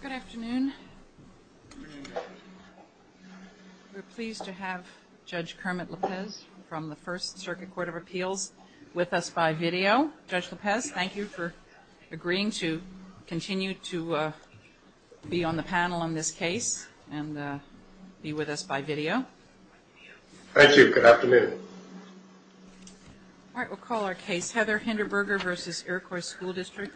Good afternoon. We're pleased to have Judge Kermit Lopez from the First Circuit Court of Appeals with us by video. Judge Lopez, thank you for agreeing to continue to be on the panel on this case and be with us by video. Thank you. Good afternoon. All right. We'll call our case, Heather Hinderberger v. Iroquios School District.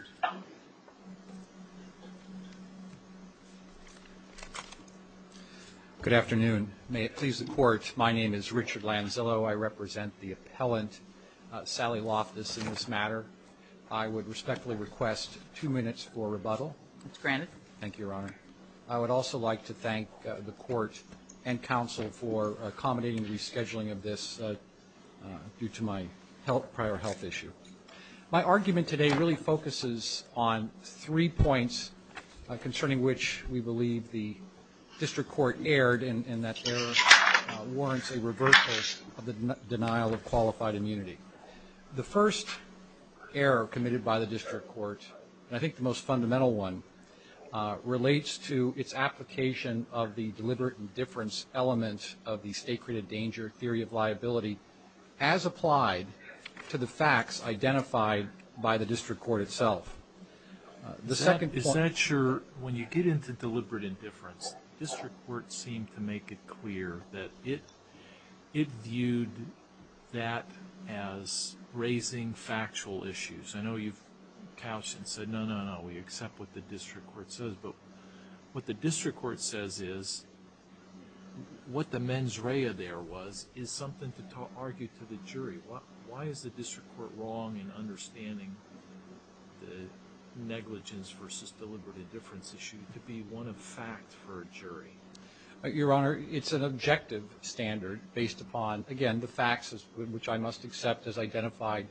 Good afternoon. May it please the Court, my name is Richard Lanzillo. I represent the appellant, Sally Loftus, in this matter. I would respectfully request two minutes for rebuttal. Thank you, Your Honor. I would also like to thank the Court and counsel for accommodating the rescheduling of this due to my prior health issue. My argument today really focuses on three points concerning which we believe the District Court erred, and that error warrants a reversal of the denial of qualified immunity. The first error committed by the District Court, and I think the most fundamental one, relates to its application of the deliberate indifference element of the state-created danger theory of liability as applied to the facts identified by the District Court itself. The second point... Is that sure, when you get into deliberate indifference, the District Court seemed to make it clear that it viewed that as raising factual issues. I know you've couched and said, no, no, no, we accept what the District Court says, but what the District Court says is what the mens rea there was is something to argue to the jury. Why is the District Court wrong in understanding the negligence versus deliberate indifference issue to be one of fact for a jury? Your Honor, it's an objective standard based upon, again, the facts, which I must accept as identified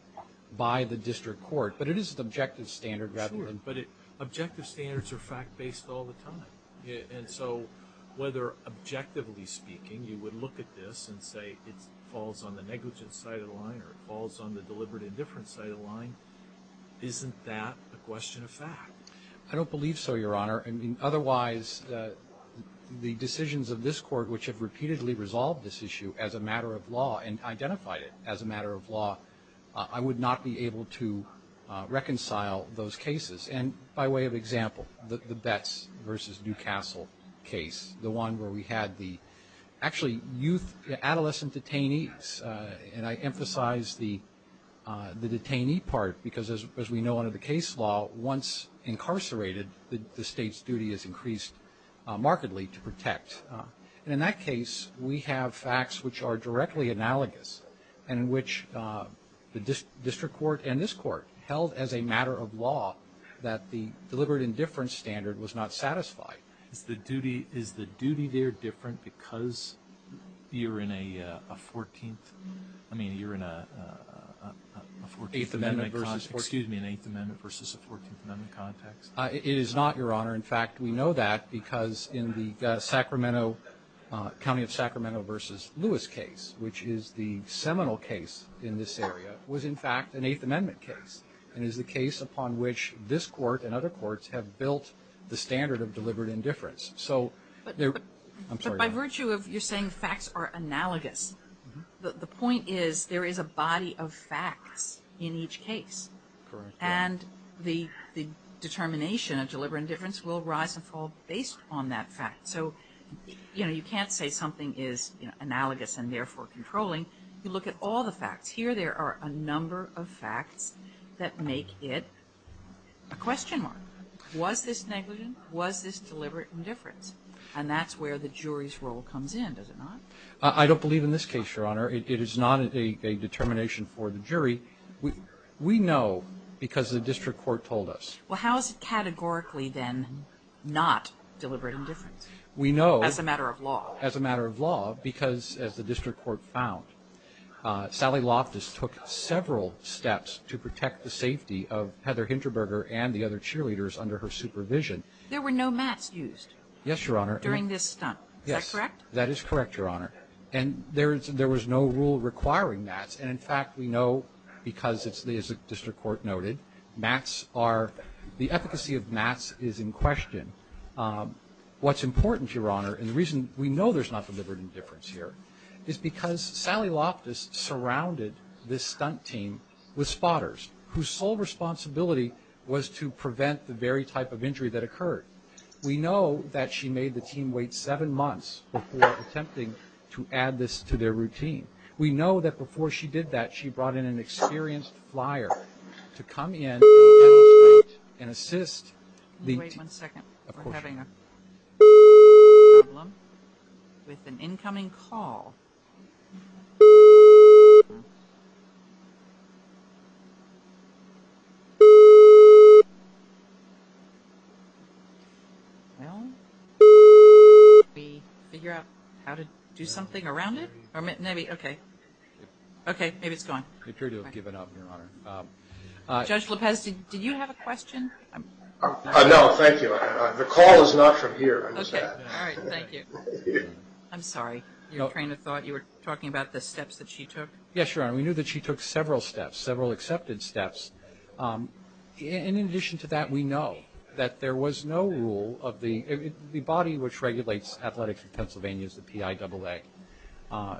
by the District Court, but it is an objective standard rather than... Sure, but objective standards are fact-based all the time. And so, whether objectively speaking, you would look at this and say it falls on the negligence side of the line or it falls on the deliberate indifference side of the line, isn't that a question of fact? I don't believe so, Your Honor. I mean, otherwise, the decisions of this Court, which have repeatedly resolved this issue as a matter of law and identified it as a matter of law, I would not be able to reconcile those cases. And by way of example, the Betts versus Newcastle case, the one where we had the actually youth adolescent detainees, and I emphasize the detainee part because, as we know under the case law, once incarcerated, the State's duty is increased markedly to protect. And in that case, we have facts which are directly analogous and which the District Court and this Court held as a matter of law that the deliberate indifference standard was not satisfied. Is the duty there different because you're in a 14th? I mean, you're in an Eighth Amendment versus a 14th Amendment context? It is not, Your Honor. In fact, we know that because in the Sacramento, County of Sacramento versus Lewis case, which is the seminal case in this area, was, in fact, an Eighth Amendment case and is the case upon which this Court and other courts have built the standard of deliberate indifference. But by virtue of your saying facts are analogous, the point is there is a body of facts in each case. Correct. And the determination of deliberate indifference will rise and fall based on that fact. So, you know, you can't say something is analogous and therefore controlling. You look at all the facts. Here there are a number of facts that make it a question mark. Was this negligent? Was this deliberate indifference? And that's where the jury's role comes in, does it not? I don't believe in this case, Your Honor. It is not a determination for the jury. We know because the district court told us. Well, how is it categorically then not deliberate indifference? We know. As a matter of law. As a matter of law, because as the district court found, Sally Loftus took several steps to protect the safety of Heather Hinterberger and the other cheerleaders under her supervision. There were no mats used. Yes, Your Honor. During this stunt. Yes. Is that correct? That is correct, Your Honor. And there was no rule requiring mats. And, in fact, we know because, as the district court noted, mats are, the efficacy of mats is in question. What's important, Your Honor, and the reason we know there's not deliberate indifference here is because Sally Loftus surrounded this stunt team with spotters whose sole responsibility was to prevent the very type of injury that occurred. We know that she made the team wait seven months before attempting to add this to their routine. We know that before she did that, she brought in an experienced flyer to come in and assist the team. Wait one second. We're having a problem with an incoming call. Can we figure out how to do something around it? Maybe. Okay. Okay. Maybe it's gone. We appear to have given up, Your Honor. Judge Lopez, did you have a question? No, thank you. The call is not from here. Okay. Your train of thought. You were talking about this. No. No. No. No. No. No. You were talking about the steps that she took? Yes, Your Honor. We knew that she took several steps, several accepted steps. And in addition to that, we know that there was no rule of the body which regulates athletics in Pennsylvania is the PIAA.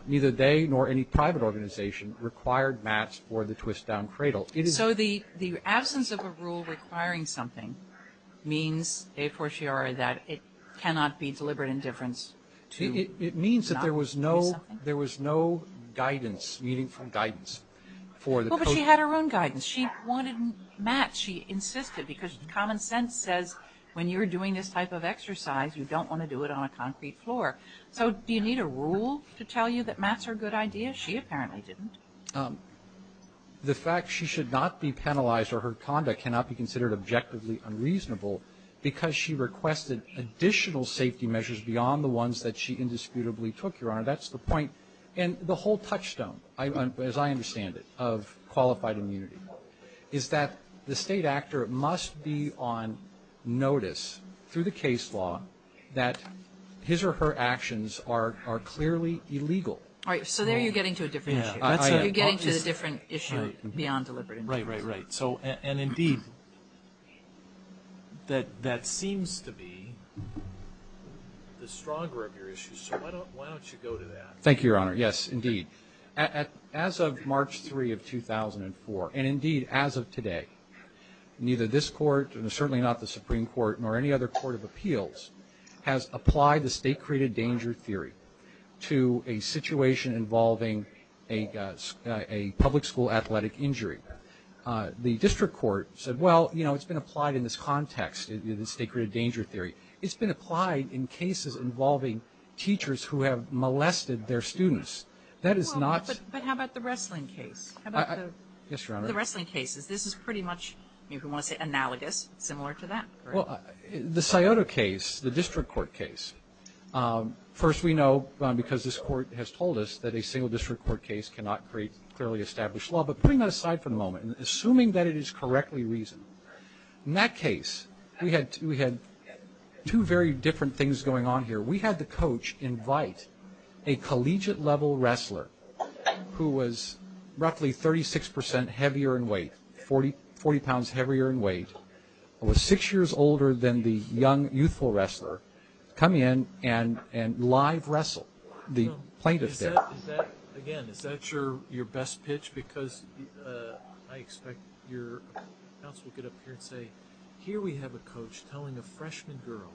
Neither they nor any private organization required mats for the twist-down cradle. So the absence of a rule requiring something means, a fortiori, that it cannot be deliberate indifference to not do something? It means that there was no guidance, meaningful guidance for the coach. Well, but she had her own guidance. She wanted mats. She insisted because common sense says when you're doing this type of exercise, you don't want to do it on a concrete floor. So do you need a rule to tell you that mats are a good idea? She apparently didn't. The fact she should not be penalized or her conduct cannot be considered objectively unreasonable because she requested additional safety measures beyond the ones that she indisputably took, Your Honor. That's the point. And the whole touchstone, as I understand it, of qualified immunity, is that the State actor must be on notice through the case law that his or her actions are clearly illegal. All right. So there you're getting to a different issue. You're getting to a different issue beyond deliberate indifference. Right, right, right. And, indeed, that seems to be the stronger of your issues. So why don't you go to that? Thank you, Your Honor. Yes, indeed. As of March 3, 2004, and, indeed, as of today, neither this Court and certainly not the Supreme Court nor any other Court of Appeals has applied the state-created danger theory to a situation involving a public school athletic injury. The district court said, well, you know, it's been applied in this context, the state-created danger theory. It's been applied in cases involving teachers who have molested their students. That is not the case. Well, but how about the wrestling case? How about the wrestling cases? This is pretty much, if you want to say analogous, similar to that. Well, the Scioto case, the district court case, first we know because this Court has told us that a single district court case cannot create clearly established law. But putting that aside for the moment, assuming that it is correctly reasoned, in that case we had two very different things going on here. We had the coach invite a collegiate level wrestler who was roughly 36% heavier in weight, 40 pounds heavier in weight, was six years older than the young youthful wrestler, come in and live wrestle the plaintiff there. Again, is that your best pitch? Because I expect your counsel will get up here and say, here we have a coach telling a freshman girl,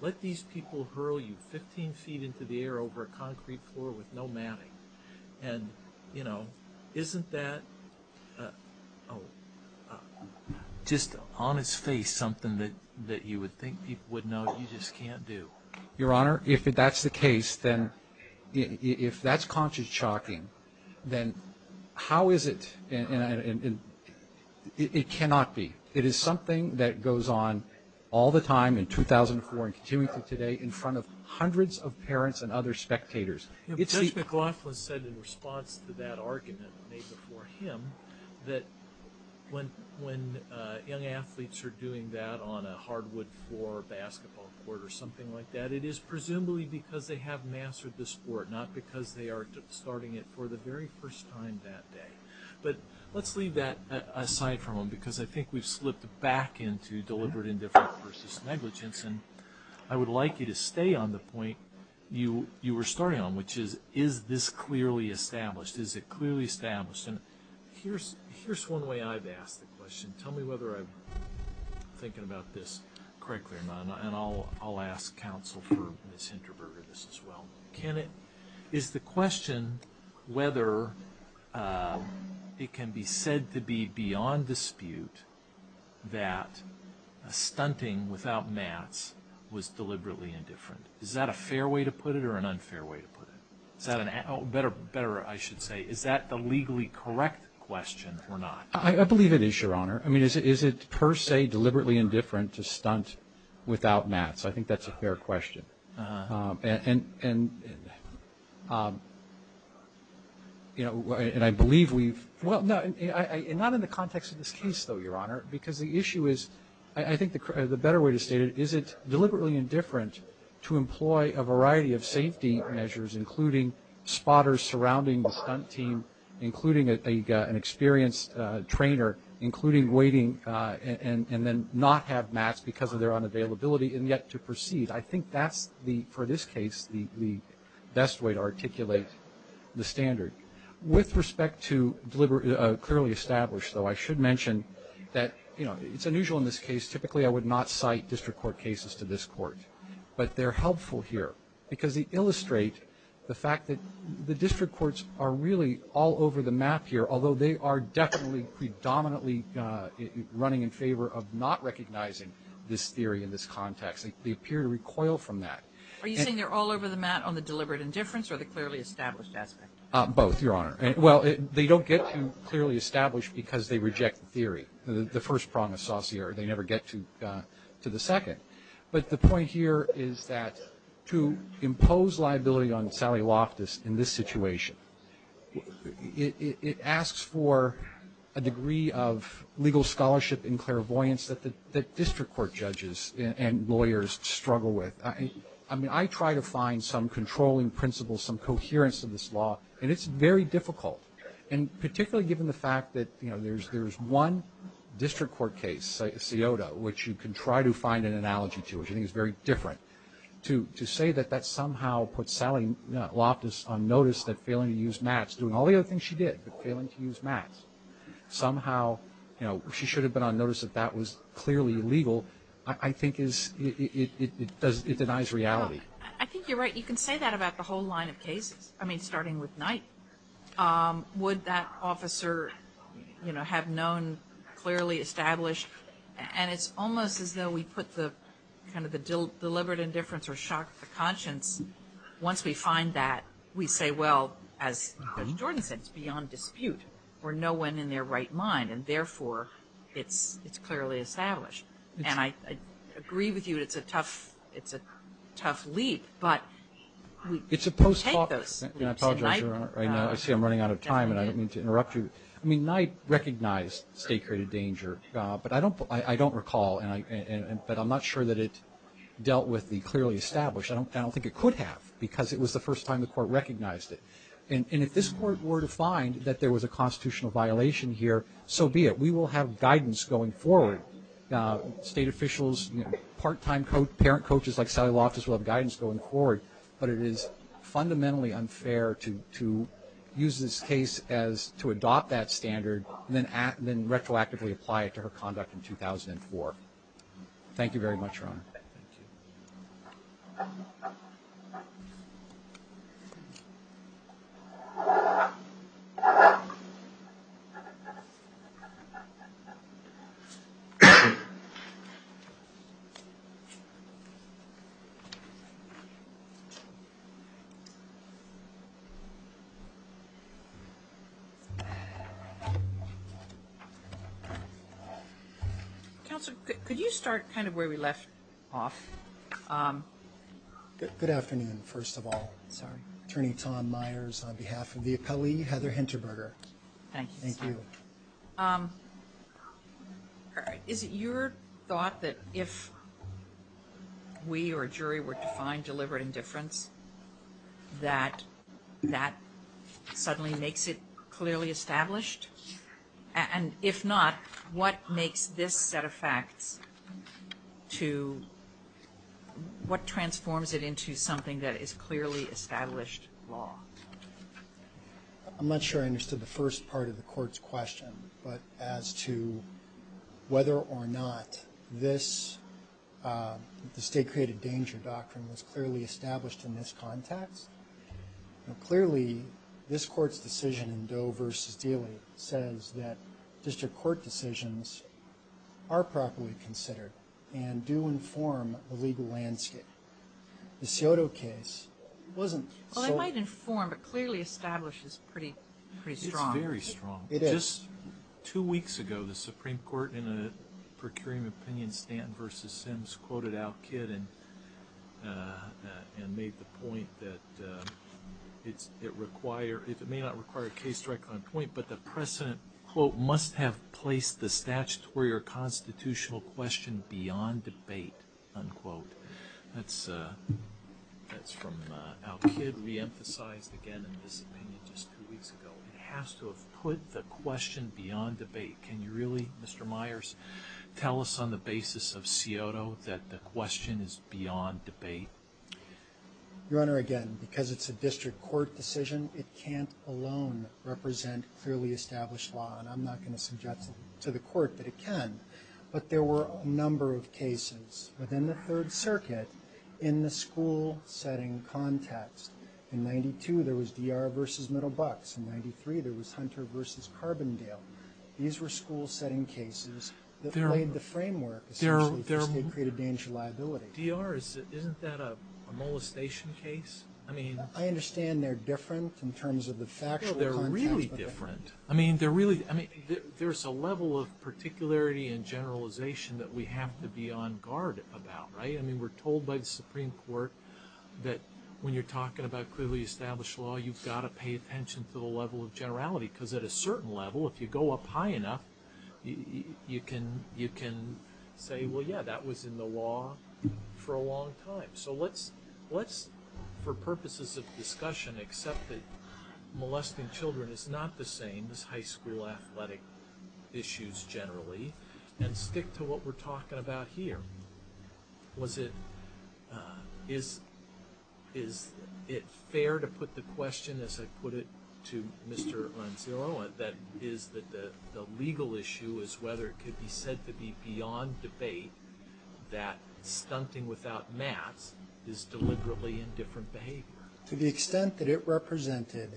let these people hurl you 15 feet into the air over a concrete floor with no matting. And, you know, isn't that just on its face something that you would think people would know you just can't do? Your Honor, if that's the case, then if that's conscious chalking, then how is it and it cannot be. It is something that goes on all the time in 2004 and continuing to today in front of hundreds of parents and other spectators. Judge McLaughlin said in response to that argument made before him that when young athletes are doing that on a hardwood floor, a basketball court or something like that, it is presumably because they have mastered the sport, not because they are starting it for the very first time that day. But let's leave that aside for a moment because I think we've slipped back into deliberate indifference versus negligence. And I would like you to stay on the point you were starting on, which is, is this clearly established? And here's one way I've asked the question. Tell me whether I'm thinking about this correctly or not. And I'll ask counsel for Ms. Hinterberger this as well. Is the question whether it can be said to be beyond dispute that a stunting without mats was deliberately indifferent? Is that a fair way to put it or an unfair way to put it? Better I should say, is that the legally correct question or not? I believe it is, Your Honor. I mean, is it per se deliberately indifferent to stunt without mats? I think that's a fair question. And I believe we've – Well, not in the context of this case, though, Your Honor, because the issue is, I think the better way to state it, is it deliberately indifferent to employ a variety of safety measures, including spotters surrounding the stunt team, including an experienced trainer, including waiting and then not have mats because of their unavailability, and yet to proceed. I think that's, for this case, the best way to articulate the standard. With respect to clearly established, though, I should mention that it's unusual in this case. Typically I would not cite district court cases to this court. But they're helpful here because they illustrate the fact that the district courts are really all over the map here, although they are definitely predominantly running in favor of not recognizing this theory in this context. They appear to recoil from that. Are you saying they're all over the map on the deliberate indifference or the clearly established aspect? Both, Your Honor. Well, they don't get to clearly established because they reject the theory, the first prong of saucier. They never get to the second. But the point here is that to impose liability on Sally Loftus in this situation, it asks for a degree of legal scholarship and clairvoyance that district court judges and lawyers struggle with. I mean, I try to find some controlling principles, some coherence in this law, and it's very difficult. And particularly given the fact that, you know, there's one district court case, SIOTA, which you can try to find an analogy to, which I think is very different. To say that that somehow puts Sally Loftus on notice that failing to use MATS, doing all the other things she did but failing to use MATS, somehow she should have been on notice that that was clearly illegal, I think it denies reality. I think you're right. You can say that about the whole line of cases, I mean, starting with Knight. Would that officer, you know, have known clearly established? And it's almost as though we put the kind of the deliberate indifference or shock of the conscience, once we find that, we say, well, as Judge Jordan said, it's beyond dispute for no one in their right mind, and, therefore, it's clearly established. And I agree with you that it's a tough leap, but we take those leaps. I see I'm running out of time, and I don't mean to interrupt you. I mean, Knight recognized state-created danger, but I don't recall, but I'm not sure that it dealt with the clearly established. I don't think it could have because it was the first time the court recognized it. And if this court were to find that there was a constitutional violation here, so be it. We will have guidance going forward. State officials, part-time parent coaches like Sally Loftus will have guidance going forward. But it is fundamentally unfair to use this case as to adopt that standard and then retroactively apply it to her conduct in 2004. Thank you. Counsel, could you start kind of where we left off? Good afternoon, first of all. Sorry. Attorney Tom Myers on behalf of the appellee, Heather Hinterberger. Thank you. Thank you. Is it your thought that if we or a jury were to find deliberate indifference, that that suddenly makes it clearly established? And if not, what makes this set of facts to what transforms it into something that is clearly established law? I'm not sure I understood the first part of the court's question, but as to whether or not this, the state-created danger doctrine, was clearly established in this context. Clearly, this court's decision in Doe v. Dealey says that district court decisions are properly considered and do inform the legal landscape. The Scioto case wasn't so. Well, it might inform, but clearly establish is pretty strong. It's very strong. It is. Just two weeks ago, the Supreme Court in a procuring opinion stand quoted Al Kidd and made the point that it may not require a case directly on point, but the precedent, quote, must have placed the statutory or constitutional question beyond debate, unquote. That's from Al Kidd reemphasized again in this opinion just two weeks ago. It has to have put the question beyond debate. Can you really, Mr. Myers, tell us on the basis of Scioto that the question is beyond debate? Your Honor, again, because it's a district court decision, it can't alone represent clearly established law, and I'm not going to suggest to the court that it can, but there were a number of cases within the Third Circuit in the school setting context. In 92, there was D.R. v. Middlebucks. In 93, there was Hunter v. Carbondale. These were school setting cases that played the framework, essentially, for state-created danger liability. D.R., isn't that a molestation case? I understand they're different in terms of the factual context. They're really different. I mean, there's a level of particularity and generalization that we have to be on guard about, right? I mean, we're told by the Supreme Court that when you're talking about clearly established law, you've got to pay attention to the level of generality because at a certain level, if you go up high enough, you can say, well, yeah, that was in the law for a long time. So let's, for purposes of discussion, accept that molesting children is not the same as high school athletic issues generally and stick to what we're talking about here. Is it fair to put the question, as I put it to Mr. Anzillo, that the legal issue is whether it could be said to be beyond debate that stunting without mats is deliberately indifferent behavior? To the extent that it represented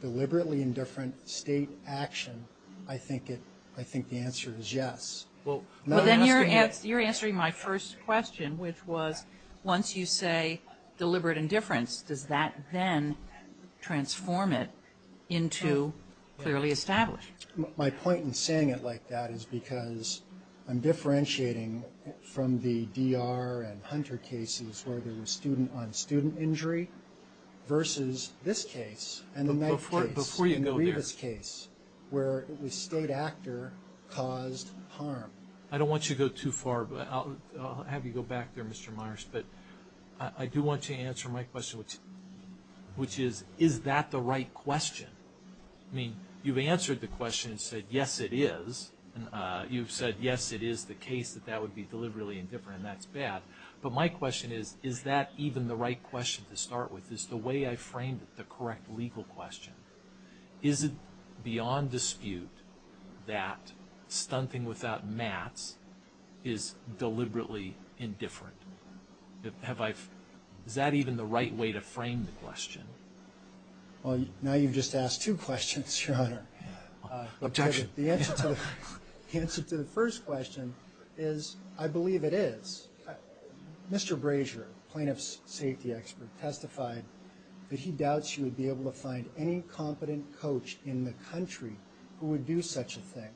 deliberately indifferent state action, I think the answer is yes. Well, then you're answering my first question, which was once you say deliberate indifference, does that then transform it into clearly established? My point in saying it like that is because I'm differentiating from the D.R. and Hunter cases where there was student-on-student injury versus this case and the next case, where it was state actor caused harm. I don't want you to go too far. I'll have you go back there, Mr. Myers. But I do want you to answer my question, which is, is that the right question? I mean, you've answered the question and said, yes, it is. You've said, yes, it is the case that that would be deliberately indifferent, and that's bad. But my question is, is that even the right question to start with? Is the way I framed it the correct legal question? Is it beyond dispute that stunting without mats is deliberately indifferent? Is that even the right way to frame the question? Well, now you've just asked two questions, Your Honor. Objection. The answer to the first question is, I believe it is. Mr. Brazier, plaintiff's safety expert, testified that he doubts you would be able to find any competent coach in the country who would do such a thing.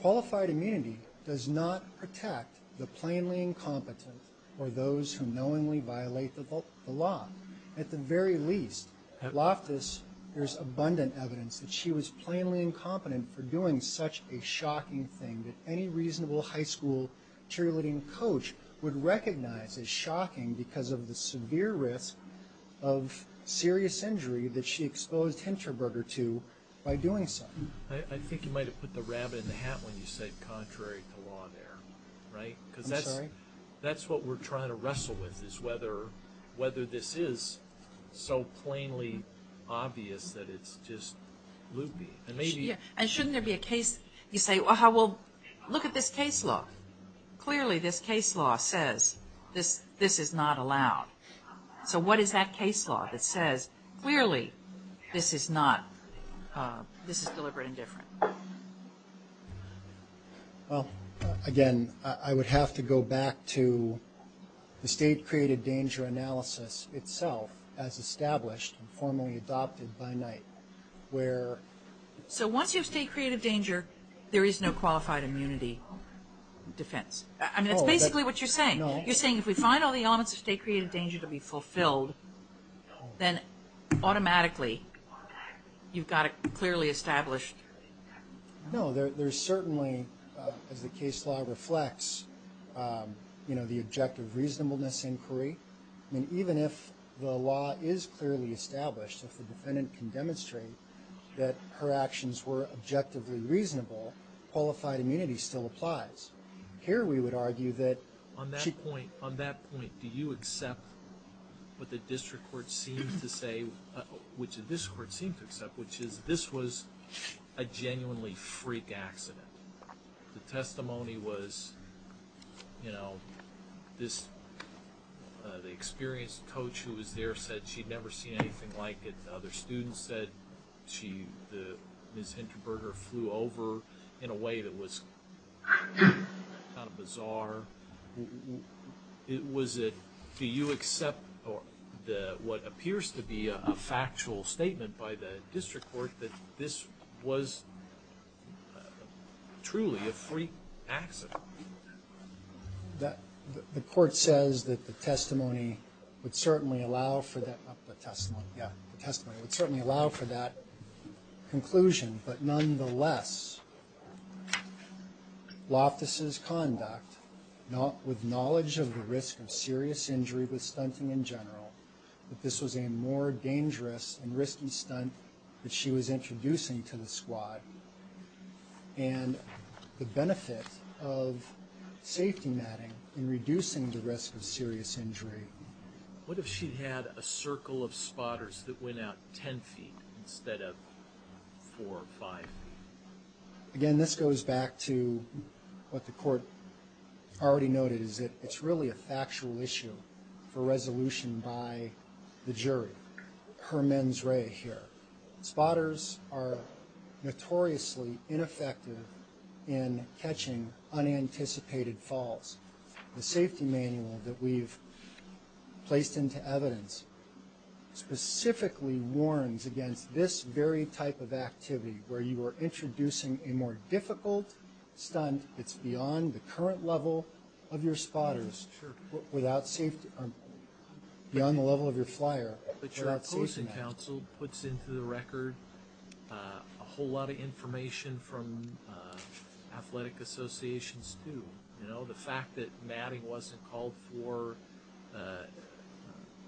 Qualified immunity does not protect the plainly incompetent or those who knowingly violate the law. At the very least, Loftus, there's abundant evidence that she was plainly incompetent for doing such a shocking thing that any reasonable high school cheerleading coach would recognize as shocking because of the severe risk of serious injury that she exposed Hinterberger to by doing so. I think you might have put the rabbit in the hat when you said contrary to law there, right? I'm sorry? Because that's what we're trying to wrestle with, is whether this is so plainly obvious that it's just loopy. And shouldn't there be a case? You say, well, look at this case law. Clearly this case law says this is not allowed. So what is that case law that says clearly this is not, this is deliberate and different? Well, again, I would have to go back to the state-created danger analysis itself as established and formally adopted by Knight, where... So once you have state-created danger, there is no qualified immunity defense. I mean, that's basically what you're saying. You're saying if we find all the elements of state-created danger to be fulfilled, then automatically you've got it clearly established. No, there's certainly, as the case law reflects, the objective reasonableness inquiry. I mean, even if the law is clearly established, if the defendant can demonstrate that her actions were objectively reasonable, qualified immunity still applies. Here we would argue that... On that point, do you accept what the district court seems to say, which this court seems to accept, which is this was a genuinely freak accident? The testimony was, you know, the experienced coach who was there said she'd never seen anything like it. Other students said she, Ms. Hintenberger, flew over in a way that was kind of bizarre. Was it... Do you accept what appears to be a factual statement by the district court that this was truly a freak accident? The court says that the testimony would certainly allow for that... Not the testimony, yeah. The testimony would certainly allow for that conclusion. But nonetheless, Loftus's conduct, with knowledge of the risk of serious injury with stunting in general, that this was a more dangerous and risky stunt that she was introducing to the squad, and the benefit of safety netting in reducing the risk of serious injury. What if she had a circle of spotters that went out 10 feet instead of 4 or 5? Again, this goes back to what the court already noted, is that it's really a factual issue for resolution by the jury. Hermann's ray here. Spotters are notoriously ineffective in catching unanticipated falls. The safety manual that we've placed into evidence specifically warns against this very type of activity, where you are introducing a more difficult stunt and it's beyond the current level of your spotters, beyond the level of your flyer. But your opposing counsel puts into the record a whole lot of information from athletic associations too. You know, the fact that Maddy wasn't called for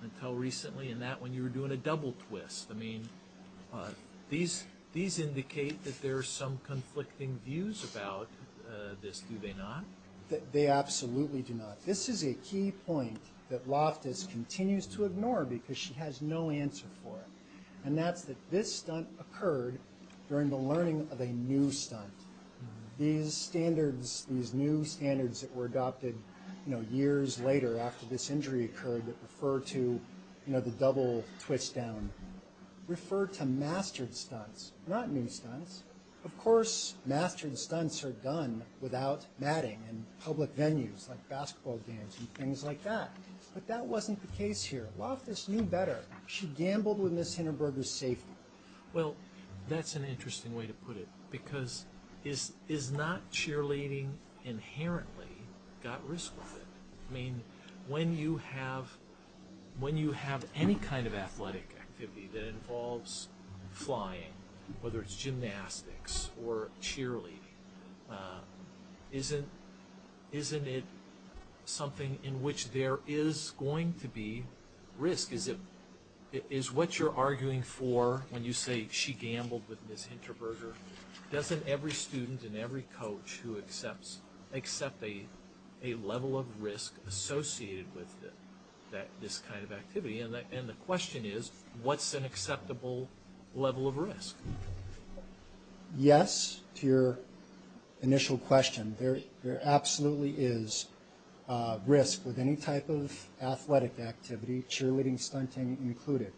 until recently, and that when you were doing a double twist. These indicate that there are some conflicting views about this, do they not? They absolutely do not. This is a key point that Loftus continues to ignore because she has no answer for it, and that's that this stunt occurred during the learning of a new stunt. These new standards that were adopted years later after this injury occurred that refer to the double twist down, refer to mastered stunts, not new stunts. Of course, mastered stunts are done without matting in public venues like basketball games and things like that. But that wasn't the case here. Loftus knew better. She gambled with Ms. Hindenburg's safety. Well, that's an interesting way to put it because is not cheerleading inherently got risk with it? I mean, when you have any kind of athletic activity that involves flying, whether it's gymnastics or cheerleading, isn't it something in which there is going to be risk? Is what you're arguing for when you say she gambled with Ms. Hindenburg, doesn't every student and every coach who accepts accept a level of risk associated with this kind of activity? And the question is, what's an acceptable level of risk? Yes, to your initial question, there absolutely is risk with any type of athletic activity, cheerleading, stunting included,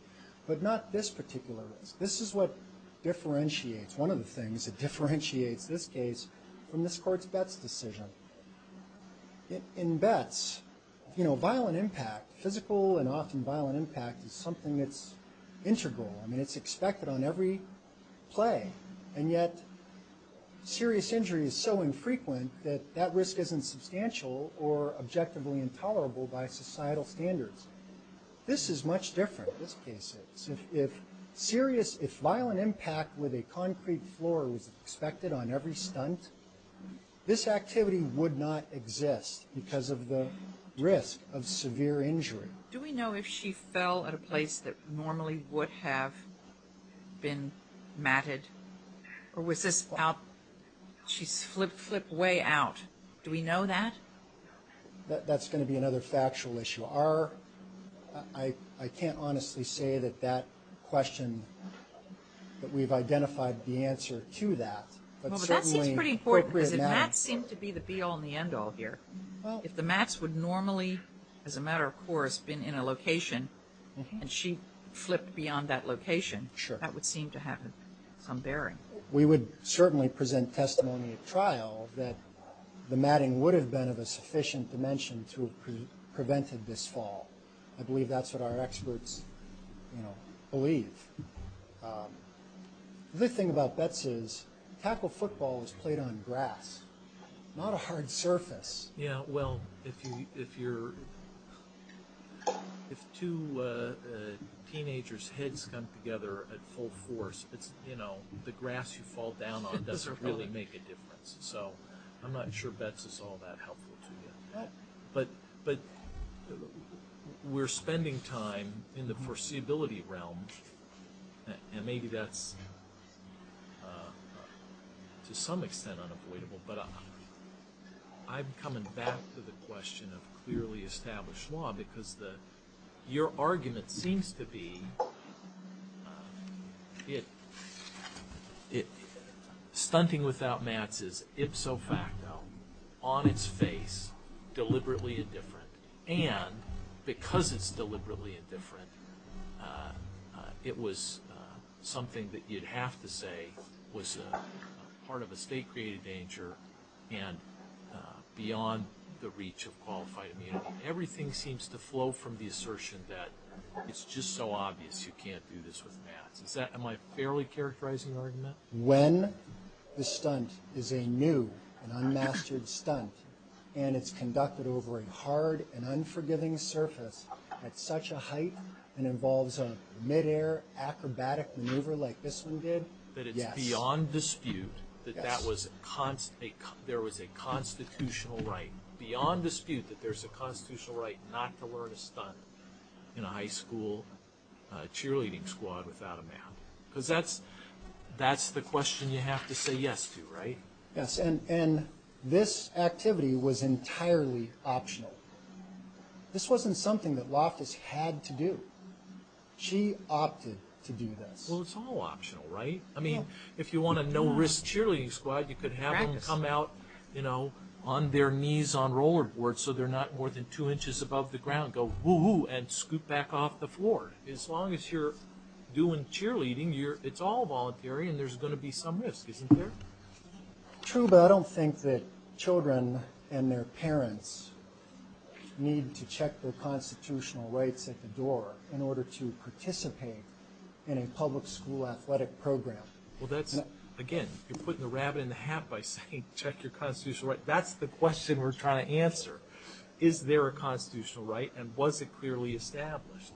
but not this particular risk. This is what differentiates. One of the things that differentiates this case from this court's Betts decision. In Betts, violent impact, physical and often violent impact, is something that's integral. I mean, it's expected on every play, and yet serious injury is so infrequent that that risk isn't substantial or objectively intolerable by societal standards. This is much different, this case. If violent impact with a concrete floor was expected on every stunt, this activity would not exist because of the risk of severe injury. Do we know if she fell at a place that normally would have been matted? Or was this out, she flipped way out? Do we know that? That's going to be another factual issue. I can't honestly say that that question, that we've identified the answer to that. Well, but that seems pretty important, because the mats seem to be the be-all and the end-all here. If the mats would normally, as a matter of course, been in a location and she flipped beyond that location, that would seem to have some bearing. We would certainly present testimony at trial that the matting would have been of a sufficient dimension to have prevented this fall. I believe that's what our experts believe. The other thing about Betts is tackle football is played on grass, not a hard surface. Yeah, well, if two teenagers' heads come together at full force, the grass you fall down on doesn't really make a difference. So I'm not sure Betts is all that helpful to you. But we're spending time in the foreseeability realm, and maybe that's to some extent unavoidable. But I'm coming back to the question of clearly established law, because your argument seems to be that stunting without mats is ipso facto, on its face, deliberately indifferent, and because it's deliberately indifferent, it was something that you'd have to say was part of a state-created danger and beyond the reach of qualified immunity. Everything seems to flow from the assertion that it's just so obvious you can't do this with mats. Am I fairly characterizing the argument? When the stunt is a new and unmastered stunt and it's conducted over a hard and unforgiving surface at such a height and involves a mid-air acrobatic maneuver like this one did, yes. But it's beyond dispute that there was a constitutional right, beyond dispute that there's a constitutional right not to learn a stunt in a high school cheerleading squad without a mat. Because that's the question you have to say yes to, right? Yes, and this activity was entirely optional. This wasn't something that Loftus had to do. She opted to do this. Well, it's all optional, right? I mean, if you want a no-risk cheerleading squad, you could have them come out on their knees on roller boards so they're not more than two inches above the ground, go whoo-hoo and scoot back off the floor. As long as you're doing cheerleading, it's all voluntary and there's going to be some risk, isn't there? True, but I don't think that children and their parents need to check their constitutional rights at the door in order to participate in a public school athletic program. Well, that's, again, you're putting the rabbit in the hat by saying check your constitutional rights. That's the question we're trying to answer. Is there a constitutional right and was it clearly established?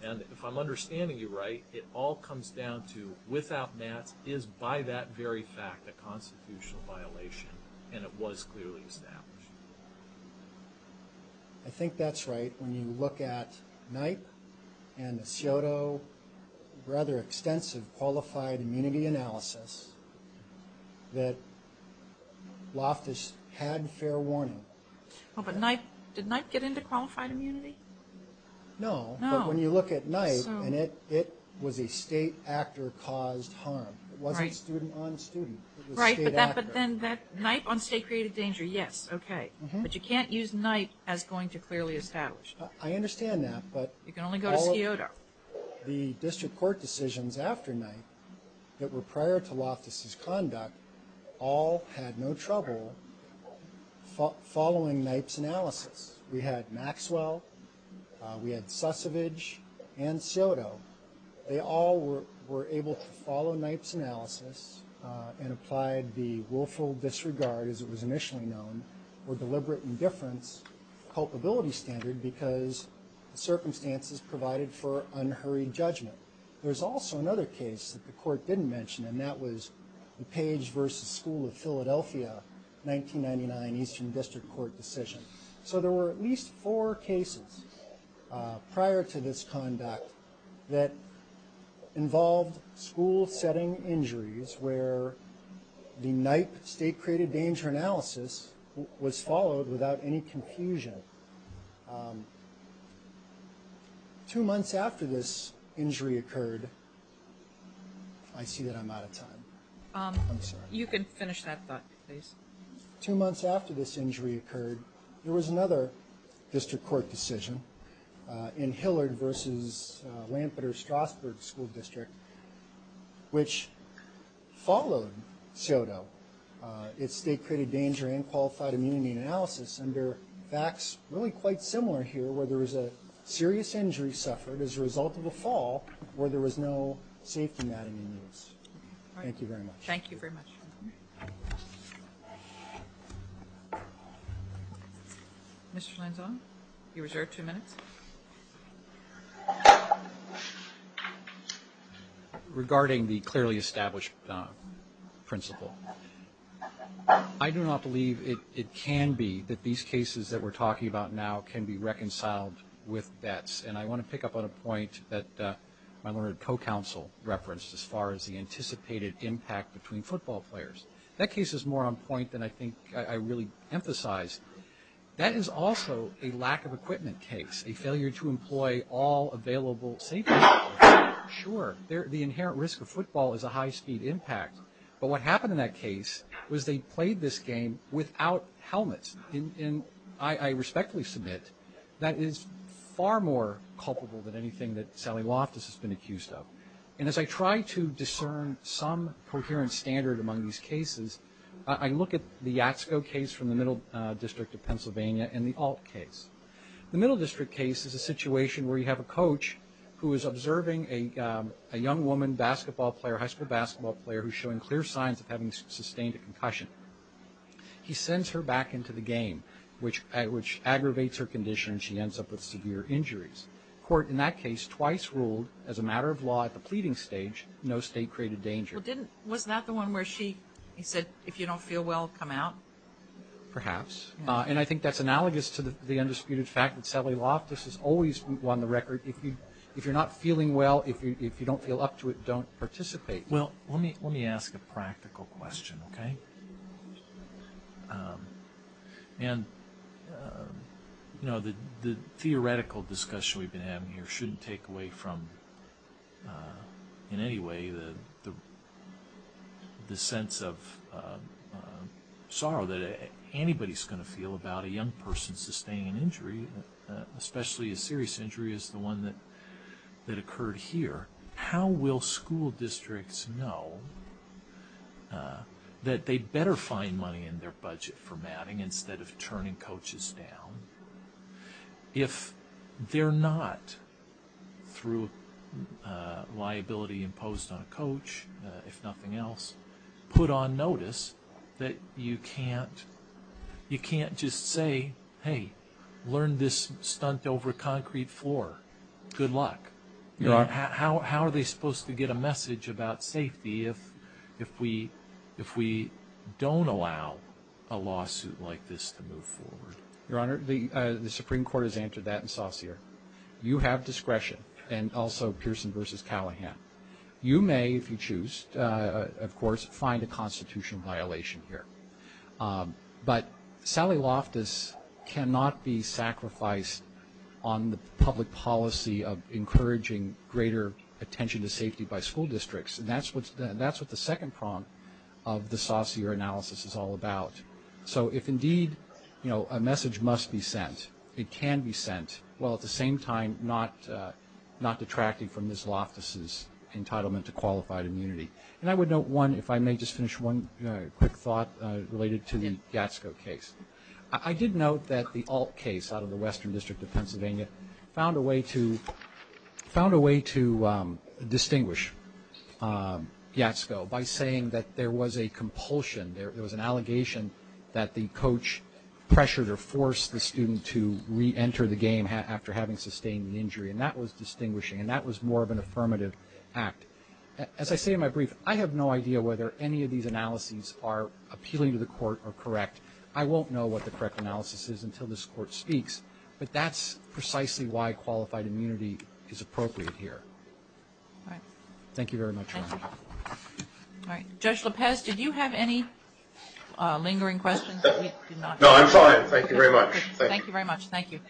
And if I'm understanding you right, it all comes down to without mats, is by that very fact a constitutional violation and it was clearly established? I think that's right. When you look at NIPE and the SIOTO, rather extensive qualified immunity analysis that Loftus had fair warning. Oh, but did NIPE get into qualified immunity? No, but when you look at NIPE, it was a state actor caused harm. It wasn't student on student. Right, but then that NIPE on state created danger, yes, okay. But you can't use NIPE as going to clearly establish. I understand that. You can only go to SIOTO. The district court decisions after NIPE that were prior to Loftus' conduct all had no trouble following NIPE's analysis. We had Maxwell, we had Sussevich, and SIOTO. They all were able to follow NIPE's analysis and applied the willful disregard, as it was initially known, or deliberate indifference culpability standard because the circumstances provided for unhurried judgment. There was also another case that the court didn't mention, and that was the Page v. School of Philadelphia 1999 Eastern District Court decision. So there were at least four cases prior to this conduct that involved school-setting injuries where the NIPE state created danger analysis was followed without any confusion. Two months after this injury occurred, I see that I'm out of time. I'm sorry. You can finish that thought, please. Two months after this injury occurred, there was another district court decision in Hillard v. Lampeter-Strasburg School District which followed SIOTO. It state created danger and qualified immunity analysis under facts really quite similar here where there was a serious injury suffered as a result of a fall where there was no safety mat in use. Thank you very much. Thank you very much. Mr. Lenzon, you're reserved two minutes. Regarding the clearly established principle, I do not believe it can be that these cases that we're talking about now can be reconciled with vets. And I want to pick up on a point that my Leonard co-counsel referenced as far as the anticipated impact between football players. That case is more on point than I think I really emphasize. That is also a lack of equipment case, a failure to employ all available safety equipment. Sure, the inherent risk of football is a high-speed impact. But what happened in that case was they played this game without helmets. And I respectfully submit that is far more culpable than anything that Sally Loftus has been accused of. And as I try to discern some coherent standard among these cases, I look at the Yatsko case from the Middle District of Pennsylvania and the Alt case. The Middle District case is a situation where you have a coach who is observing a young woman basketball player, high school basketball player, who's showing clear signs of having sustained a concussion. He sends her back into the game, which aggravates her condition and she ends up with severe injuries. The court in that case twice ruled, as a matter of law at the pleading stage, no state-created danger. Well, wasn't that the one where she said, if you don't feel well, come out? Perhaps. And I think that's analogous to the undisputed fact that Sally Loftus has always won the record. If you're not feeling well, if you don't feel up to it, don't participate. Well, let me ask a practical question, okay? And the theoretical discussion we've been having here shouldn't take away from, in any way, the sense of sorrow that anybody's going to feel about a young person sustaining an injury, especially a serious injury as the one that occurred here. How will school districts know that they'd better find money in their budget for matting instead of turning coaches down if they're not, through liability imposed on a coach, if nothing else, put on notice that you can't just say, hey, learn this stunt over a concrete floor. Good luck. How are they supposed to get a message about safety if we don't allow a lawsuit like this to move forward? Your Honor, the Supreme Court has answered that in Saucere. You have discretion, and also Pearson v. Callahan. You may, if you choose, of course, find a constitutional violation here. But Sally Loftus cannot be sacrificed on the public policy of encouraging greater attention to safety by school districts, and that's what the second prong of the Saucere analysis is all about. So if indeed a message must be sent, it can be sent, while at the same time not detracting from Ms. Loftus' entitlement to qualified immunity. And I would note one, if I may just finish one quick thought related to the Yatsko case. I did note that the Alt case out of the Western District of Pennsylvania found a way to distinguish Yatsko by saying that there was a compulsion, there was an allegation that the coach pressured or forced the student to reenter the game after having sustained the injury, and that was distinguishing, and that was more of an affirmative act. As I say in my brief, I have no idea whether any of these analyses are appealing to the court or correct. I won't know what the correct analysis is until this Court speaks, but that's precisely why qualified immunity is appropriate here. Thank you very much, Your Honor. All right. Judge Lopez, did you have any lingering questions? No, I'm fine. Thank you very much. Thank you very much. Thank you.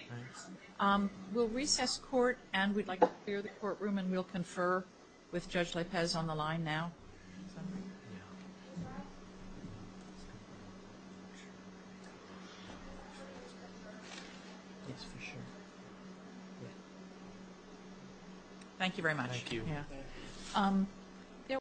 We'll recess court, and we'd like to clear the courtroom, and we'll confer with Judge Lopez on the line now. Thank you very much. Thank you.